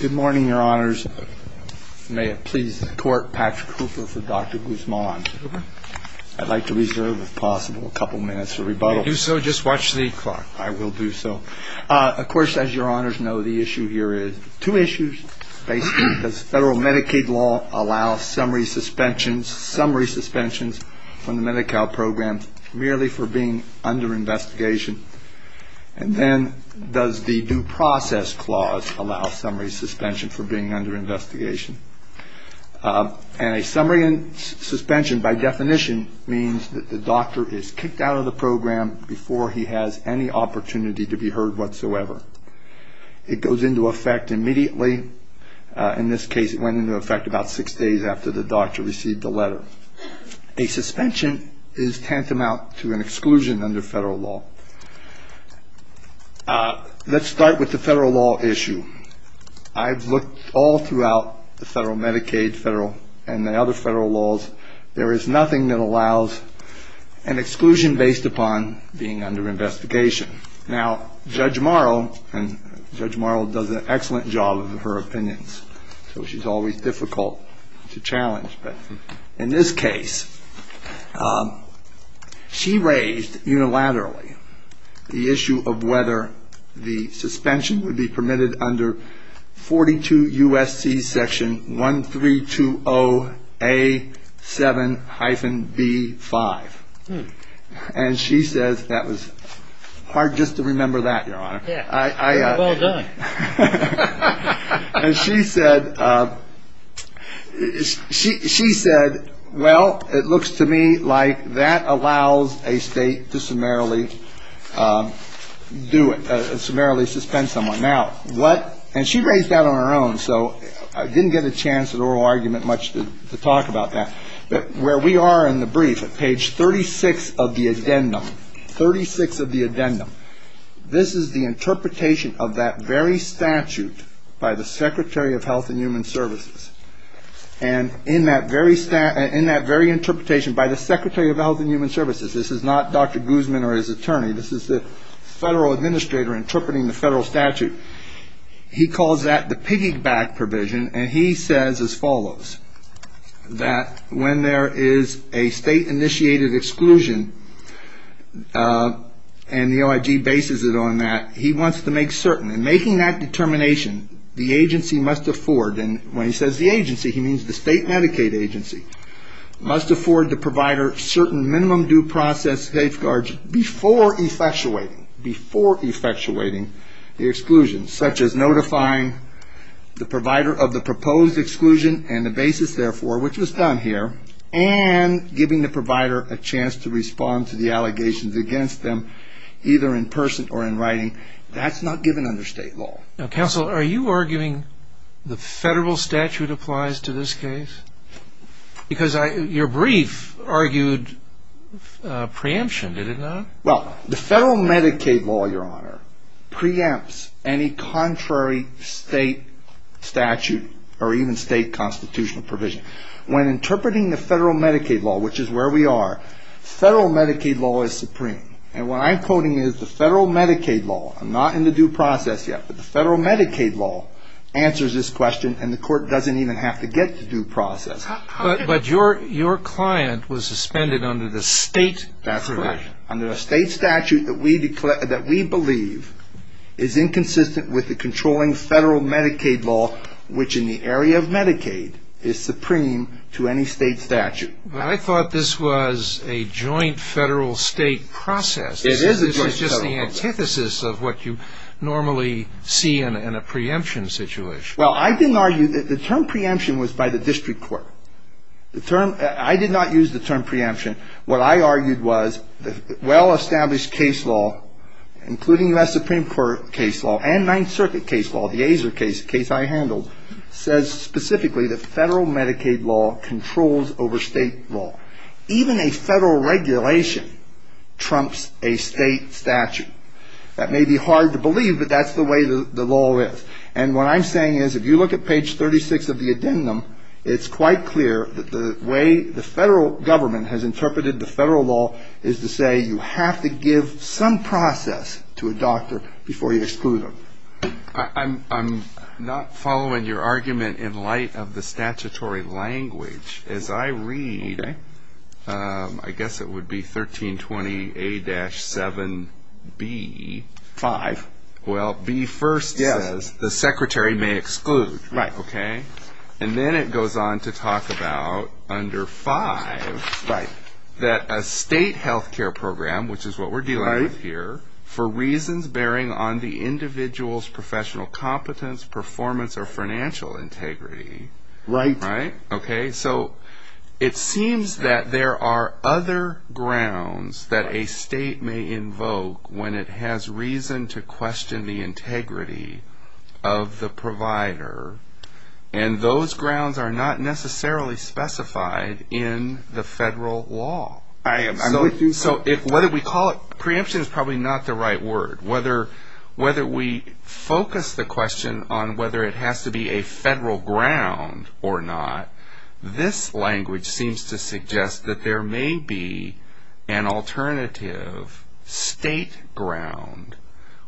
Good morning, Your Honors. May it please the Court, Patrick Hooper for Dr. Guzman. I'd like to reserve, if possible, a couple minutes for rebuttal. If you do so, just watch the clock. I will do so. Of course, as Your Honors know, the issue here is two issues. Basically, does federal Medicaid law allow summary suspensions from the Medi-Cal program merely for being under investigation? And then, does the Due Process Clause allow summary suspension for being under investigation? And a summary suspension, by definition, means that the doctor is kicked out of the program before he has any opportunity to be heard whatsoever. It goes into effect immediately. In this case, it went into effect about six days after the doctor received the letter. A suspension is tantamount to an exclusion under federal law. Let's start with the federal law issue. I've looked all throughout the federal Medicaid and the other federal laws. There is nothing that allows an exclusion based upon being under investigation. Now, Judge Morrow, and Judge Morrow does an excellent job of her opinions, so she's always difficult to challenge. But in this case, she raised unilaterally the issue of whether the suspension would be permitted under 42 U.S.C. Section 1320A7-B5. And she says that was hard just to remember that, Your Honor. Well done. And she said, well, it looks to me like that allows a state to summarily do it, summarily suspend someone. Now, what, and she raised that on her own, so I didn't get a chance at oral argument much to talk about that. But where we are in the brief at page 36 of the addendum, 36 of the addendum, this is the interpretation of that very statute by the Secretary of Health and Human Services. And in that very interpretation by the Secretary of Health and Human Services, this is not Dr. Guzman or his attorney, this is the federal administrator interpreting the federal statute, he calls that the piggyback provision. And he says as follows, that when there is a state-initiated exclusion, and the OIG bases it on that, he wants to make certain. In making that determination, the agency must afford, and when he says the agency, he means the state Medicaid agency, must afford the provider certain minimum due process safeguards before effectuating the exclusion, such as notifying the provider of the proposed exclusion and the basis, therefore, which was done here, and giving the provider a chance to respond to the allegations against them, either in person or in writing. That's not given under state law. Now, counsel, are you arguing the federal statute applies to this case? Because your brief argued preemption, did it not? Well, the federal Medicaid law, Your Honor, preempts any contrary state statute or even state constitutional provision. When interpreting the federal Medicaid law, which is where we are, federal Medicaid law is supreme. And what I'm quoting is the federal Medicaid law, I'm not in the due process yet, but the federal Medicaid law answers this question, and the court doesn't even have to get to due process. But your client was suspended under the state provision. That's correct. Under the state statute that we believe is inconsistent with the controlling federal Medicaid law, which in the area of Medicaid is supreme to any state statute. I thought this was a joint federal-state process. It is a joint federal process. This is just the antithesis of what you normally see in a preemption situation. Well, I didn't argue that the term preemption was by the district court. I did not use the term preemption. What I argued was the well-established case law, including U.S. Supreme Court case law and Ninth Circuit case law, the Azar case, a case I handled, says specifically that federal Medicaid law controls over state law. Even a federal regulation trumps a state statute. That may be hard to believe, but that's the way the law is. And what I'm saying is if you look at page 36 of the addendum, it's quite clear that the way the federal government has interpreted the federal law is to say you have to give some process to a doctor before you exclude them. I'm not following your argument in light of the statutory language. As I read, I guess it would be 1320A-7B. Five. Well, B first says the secretary may exclude. Right. Okay. And then it goes on to talk about under five that a state health care program, which is what we're dealing with here, for reasons bearing on the individual's professional competence, performance, or financial integrity. Right. Okay. So it seems that there are other grounds that a state may invoke when it has reason to question the integrity of the provider, and those grounds are not necessarily specified in the federal law. I'm with you. So whether we call it preemption is probably not the right word. Whether we focus the question on whether it has to be a federal ground or not, this language seems to suggest that there may be an alternative state ground,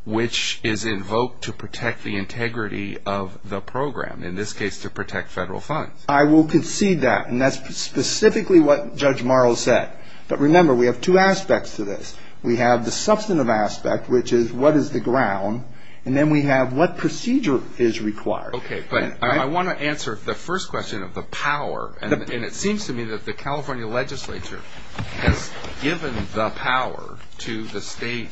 which is invoked to protect the integrity of the program, in this case to protect federal funds. I will concede that, and that's specifically what Judge Morrow said. But remember, we have two aspects to this. We have the substantive aspect, which is what is the ground, and then we have what procedure is required. Okay. But I want to answer the first question of the power, and it seems to me that the California legislature has given the power to the state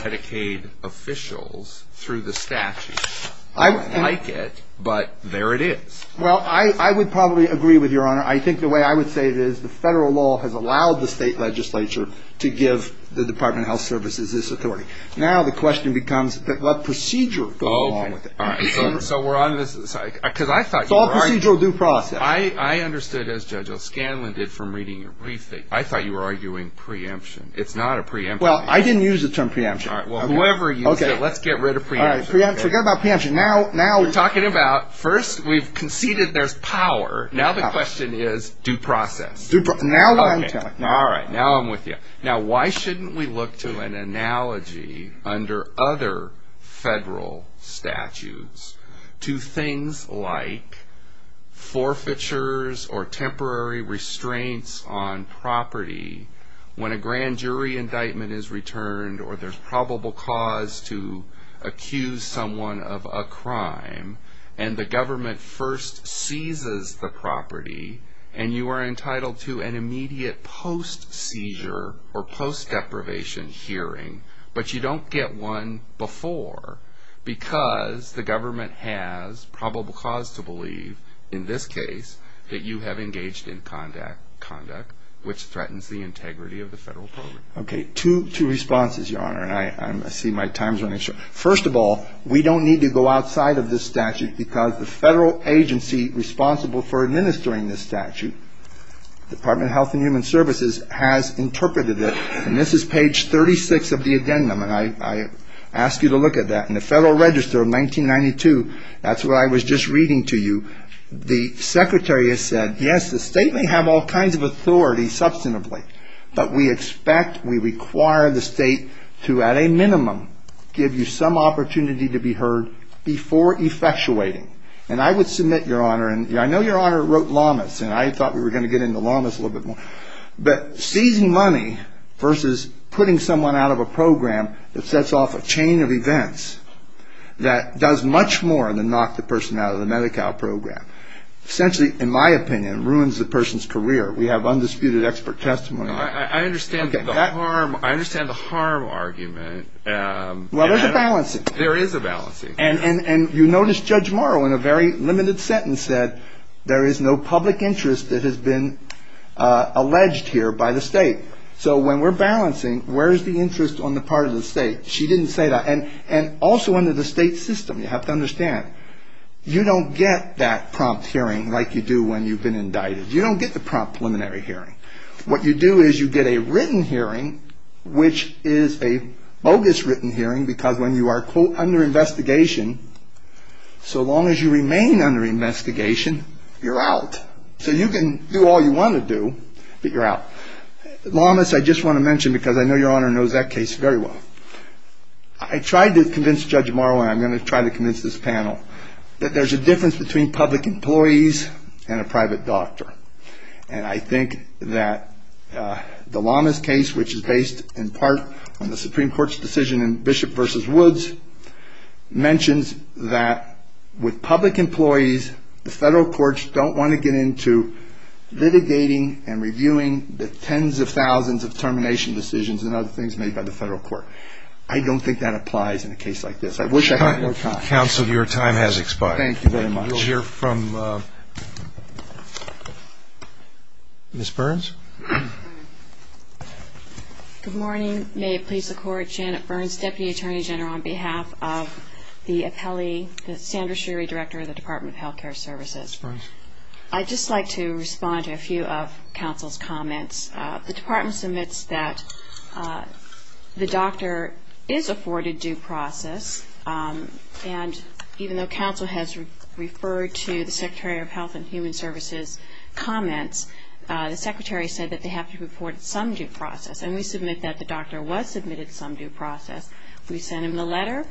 Medicaid officials through the statute. I don't like it, but there it is. Well, I would probably agree with Your Honor. I think the way I would say it is the federal law has allowed the state legislature to give the Department of Health Services this authority. Now the question becomes what procedure goes along with it. All right. So we're on this. Because I thought you were arguing. It's all procedural due process. I understood, as Judge O'Scanlan did from reading your briefing, I thought you were arguing preemption. It's not a preemption. Well, I didn't use the term preemption. All right. Well, whoever used it, let's get rid of preemption. Forget about preemption. Now we're talking about first we've conceded there's power. Now the question is due process. Now I'm telling. All right. Now I'm with you. Now why shouldn't we look to an analogy under other federal statutes to things like forfeitures or temporary restraints on property when a grand jury indictment is returned or there's probable cause to accuse someone of a crime and the government first seizes the property and you are entitled to an immediate post-seizure or post-deprivation hearing, but you don't get one before because the government has probable cause to believe, in this case, that you have engaged in conduct which threatens the integrity of the federal program. Okay. Two responses, Your Honor, and I see my time's running short. First of all, we don't need to go outside of this statute because the federal agency responsible for administering this statute, Department of Health and Human Services, has interpreted it, and this is page 36 of the addendum, and I ask you to look at that. In the Federal Register of 1992, that's what I was just reading to you, the secretary has said, yes, the state may have all kinds of authority substantively, but we expect, we require the state to, at a minimum, give you some opportunity to be heard before effectuating, and I would submit, Your Honor, and I know Your Honor wrote lamas, and I thought we were going to get into lamas a little bit more, but seizing money versus putting someone out of a program that sets off a chain of events that does much more than knock the person out of the Medi-Cal program, essentially, in my opinion, ruins the person's career. We have undisputed expert testimony. I understand the harm argument. Well, there's a balancing. There is a balancing. And you notice Judge Morrow, in a very limited sentence, said there is no public interest that has been alleged here by the state. So when we're balancing, where is the interest on the part of the state? She didn't say that. And also under the state system, you have to understand, you don't get that prompt hearing like you do when you've been indicted. You don't get the prompt preliminary hearing. What you do is you get a written hearing, which is a bogus written hearing because when you are, quote, under investigation, so long as you remain under investigation, you're out. So you can do all you want to do, but you're out. Lamas, I just want to mention because I know Your Honor knows that case very well. I tried to convince Judge Morrow, and I'm going to try to convince this panel, that there's a difference between public employees and a private doctor. And I think that the Lamas case, which is based in part on the Supreme Court's decision in Bishop v. Woods, mentions that with public employees, the federal courts don't want to get into litigating and reviewing the tens of thousands of termination decisions and other things made by the federal court. I don't think that applies in a case like this. I wish I had more time. Counsel, your time has expired. Thank you very much. We'll hear from Ms. Burns. Good morning. May it please the Court, Janet Burns, Deputy Attorney General, on behalf of the appellee, Sandra Sherry, Director of the Department of Health Care Services. Ms. Burns. I'd just like to respond to a few of counsel's comments. The Department submits that the doctor is afforded due process, and even though counsel has referred to the Secretary of Health and Human Services' comments, the Secretary said that they have to report some due process. And we submit that the doctor was submitted some due process. We sent him a letter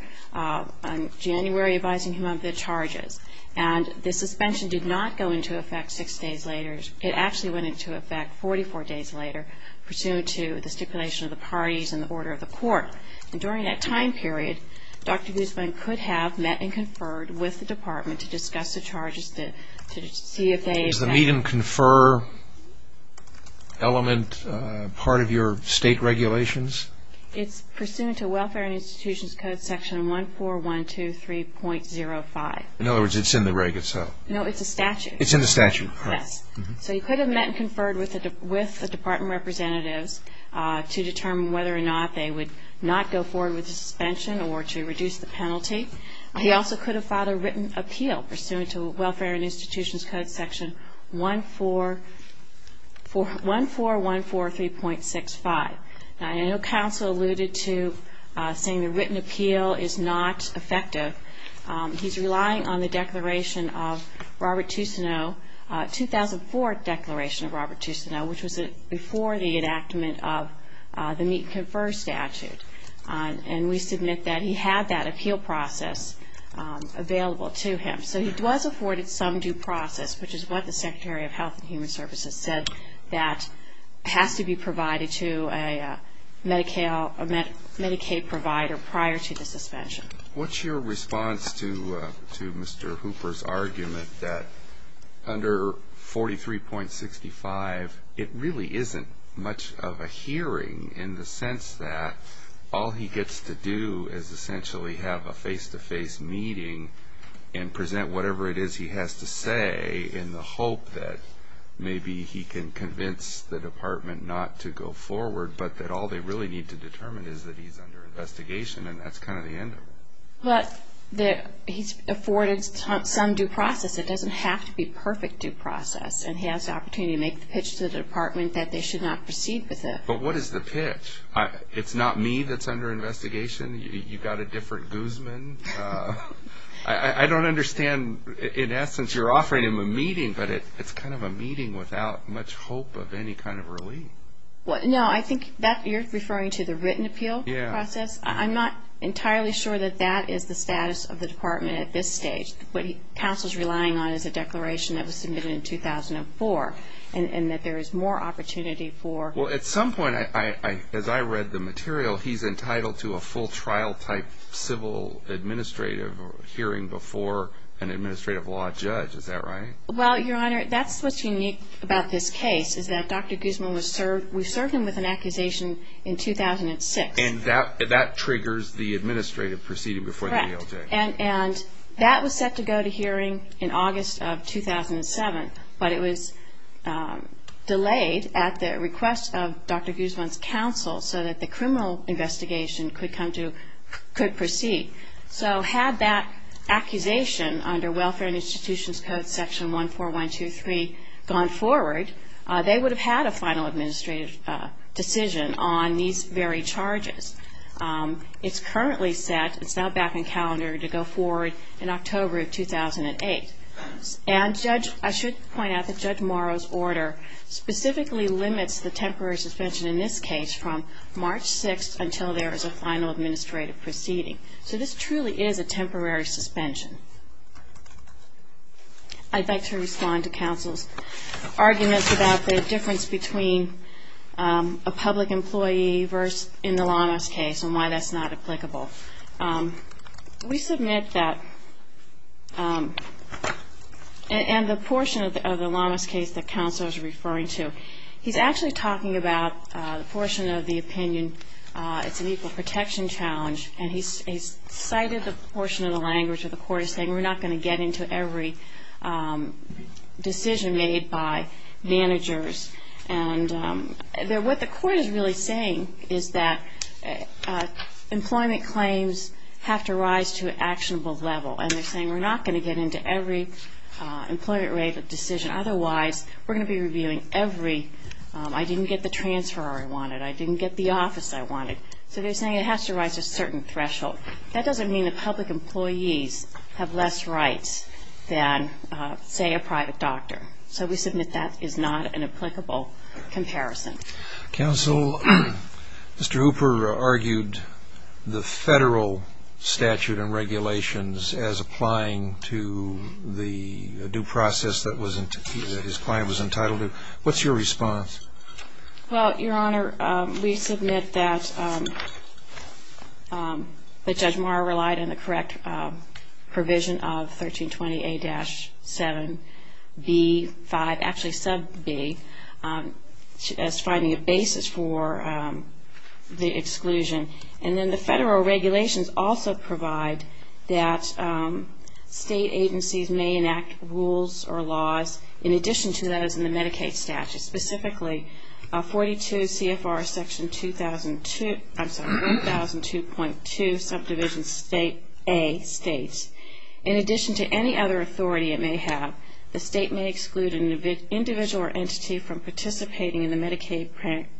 in January advising him of the charges. And the suspension did not go into effect six days later. It actually went into effect 44 days later, pursuant to the stipulation of the parties and the order of the court. And during that time period, Dr. Guzman could have met and conferred with the department to discuss the charges to see if they had met. Is the meet and confer element part of your state regulations? It's pursuant to Welfare and Institutions Code Section 14123.05. In other words, it's in the reg itself. No, it's a statute. It's in the statute. Yes. So he could have met and conferred with the department representatives to determine whether or not they would not go forward with the suspension or to reduce the penalty. He also could have filed a written appeal, pursuant to Welfare and Institutions Code Section 14143.65. Now, I know counsel alluded to saying the written appeal is not effective. He's relying on the declaration of Robert Tucino, 2004 Declaration of Robert Tucino, which was before the enactment of the meet and confer statute. And we submit that he had that appeal process available to him. So he was afforded some due process, which is what the Secretary of Health and Human Services said, that has to be provided to a Medicaid provider prior to the suspension. What's your response to Mr. Hooper's argument that under 43.65, it really isn't much of a hearing in the sense that all he gets to do is essentially have a face-to-face meeting and present whatever it is he has to say in the hope that maybe he can convince the department not to go forward, but that all they really need to determine is that he's under investigation, and that's kind of the end of it. But he's afforded some due process. It doesn't have to be perfect due process, and he has the opportunity to make the pitch to the department that they should not proceed with it. But what is the pitch? It's not me that's under investigation? You've got a different Guzman? I don't understand. In essence, you're offering him a meeting, but it's kind of a meeting without much hope of any kind of relief. No, I think you're referring to the written appeal process. I'm not entirely sure that that is the status of the department at this stage. What counsel's relying on is a declaration that was submitted in 2004 and that there is more opportunity for... Well, at some point, as I read the material, he's entitled to a full trial-type civil administrative hearing before an administrative law judge. Is that right? Well, Your Honor, that's what's unique about this case, is that Dr. Guzman was served with an accusation in 2006. And that triggers the administrative proceeding before the ALJ. Correct. And that was set to go to hearing in August of 2007, but it was delayed at the request of Dr. Guzman's counsel so that the criminal investigation could proceed. So had that accusation under Welfare and Institutions Code Section 14123 gone forward, they would have had a final administrative decision on these very charges. It's currently set, it's now back on calendar, to go forward in October of 2008. And I should point out that Judge Morrow's order specifically limits the temporary suspension in this case from March 6th until there is a final administrative proceeding. So this truly is a temporary suspension. I'd like to respond to counsel's arguments about the difference between a public employee versus in the Lamas case and why that's not applicable. We submit that, and the portion of the Lamas case that counsel is referring to, he's actually talking about the portion of the opinion, it's an equal protection challenge, and he's cited the portion of the language where the court is saying we're not going to get into every decision made by managers. And what the court is really saying is that employment claims have to rise to an actionable level, and they're saying we're not going to get into every employment rate decision, otherwise we're going to be reviewing every, I didn't get the transfer I wanted, I didn't get the office I wanted. So they're saying it has to rise to a certain threshold. That doesn't mean that public employees have less rights than, say, a private doctor. So we submit that is not an applicable comparison. Counsel, Mr. Hooper argued the federal statute and regulations as applying to the due process that his client was entitled to. What's your response? Well, Your Honor, we submit that Judge Maher relied on the correct provision of 1320A-7B5, actually sub-B, as finding a basis for the exclusion. And then the federal regulations also provide that state agencies may enact rules or laws in addition to those in the Medicaid statute, specifically 42 CFR section 2002, I'm sorry, 1002.2 subdivision state A states, in addition to any other authority it may have, the state may exclude an individual or entity from participating in the Medicaid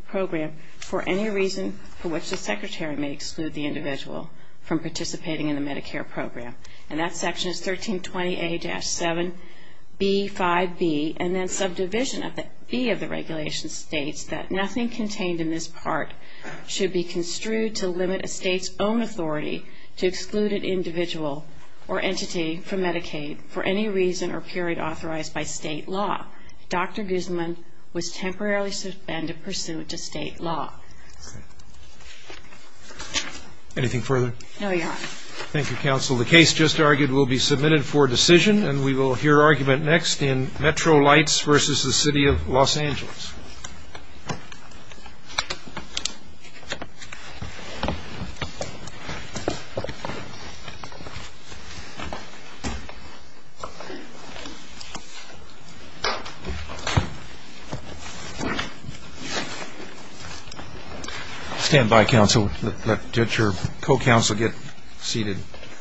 program for any reason for which the secretary may exclude the individual from participating in the Medicare program. And that section is 1320A-7B5B. And then subdivision B of the regulation states that nothing contained in this part should be construed to limit a state's own authority to exclude an individual or entity from Medicaid for any reason or period authorized by state law. Dr. Guzman was temporarily suspended pursuant to state law. Anything further? No, Your Honor. Thank you, counsel. The case just argued will be submitted for decision, and we will hear argument next in Metro Lights v. The City of Los Angeles. Thank you.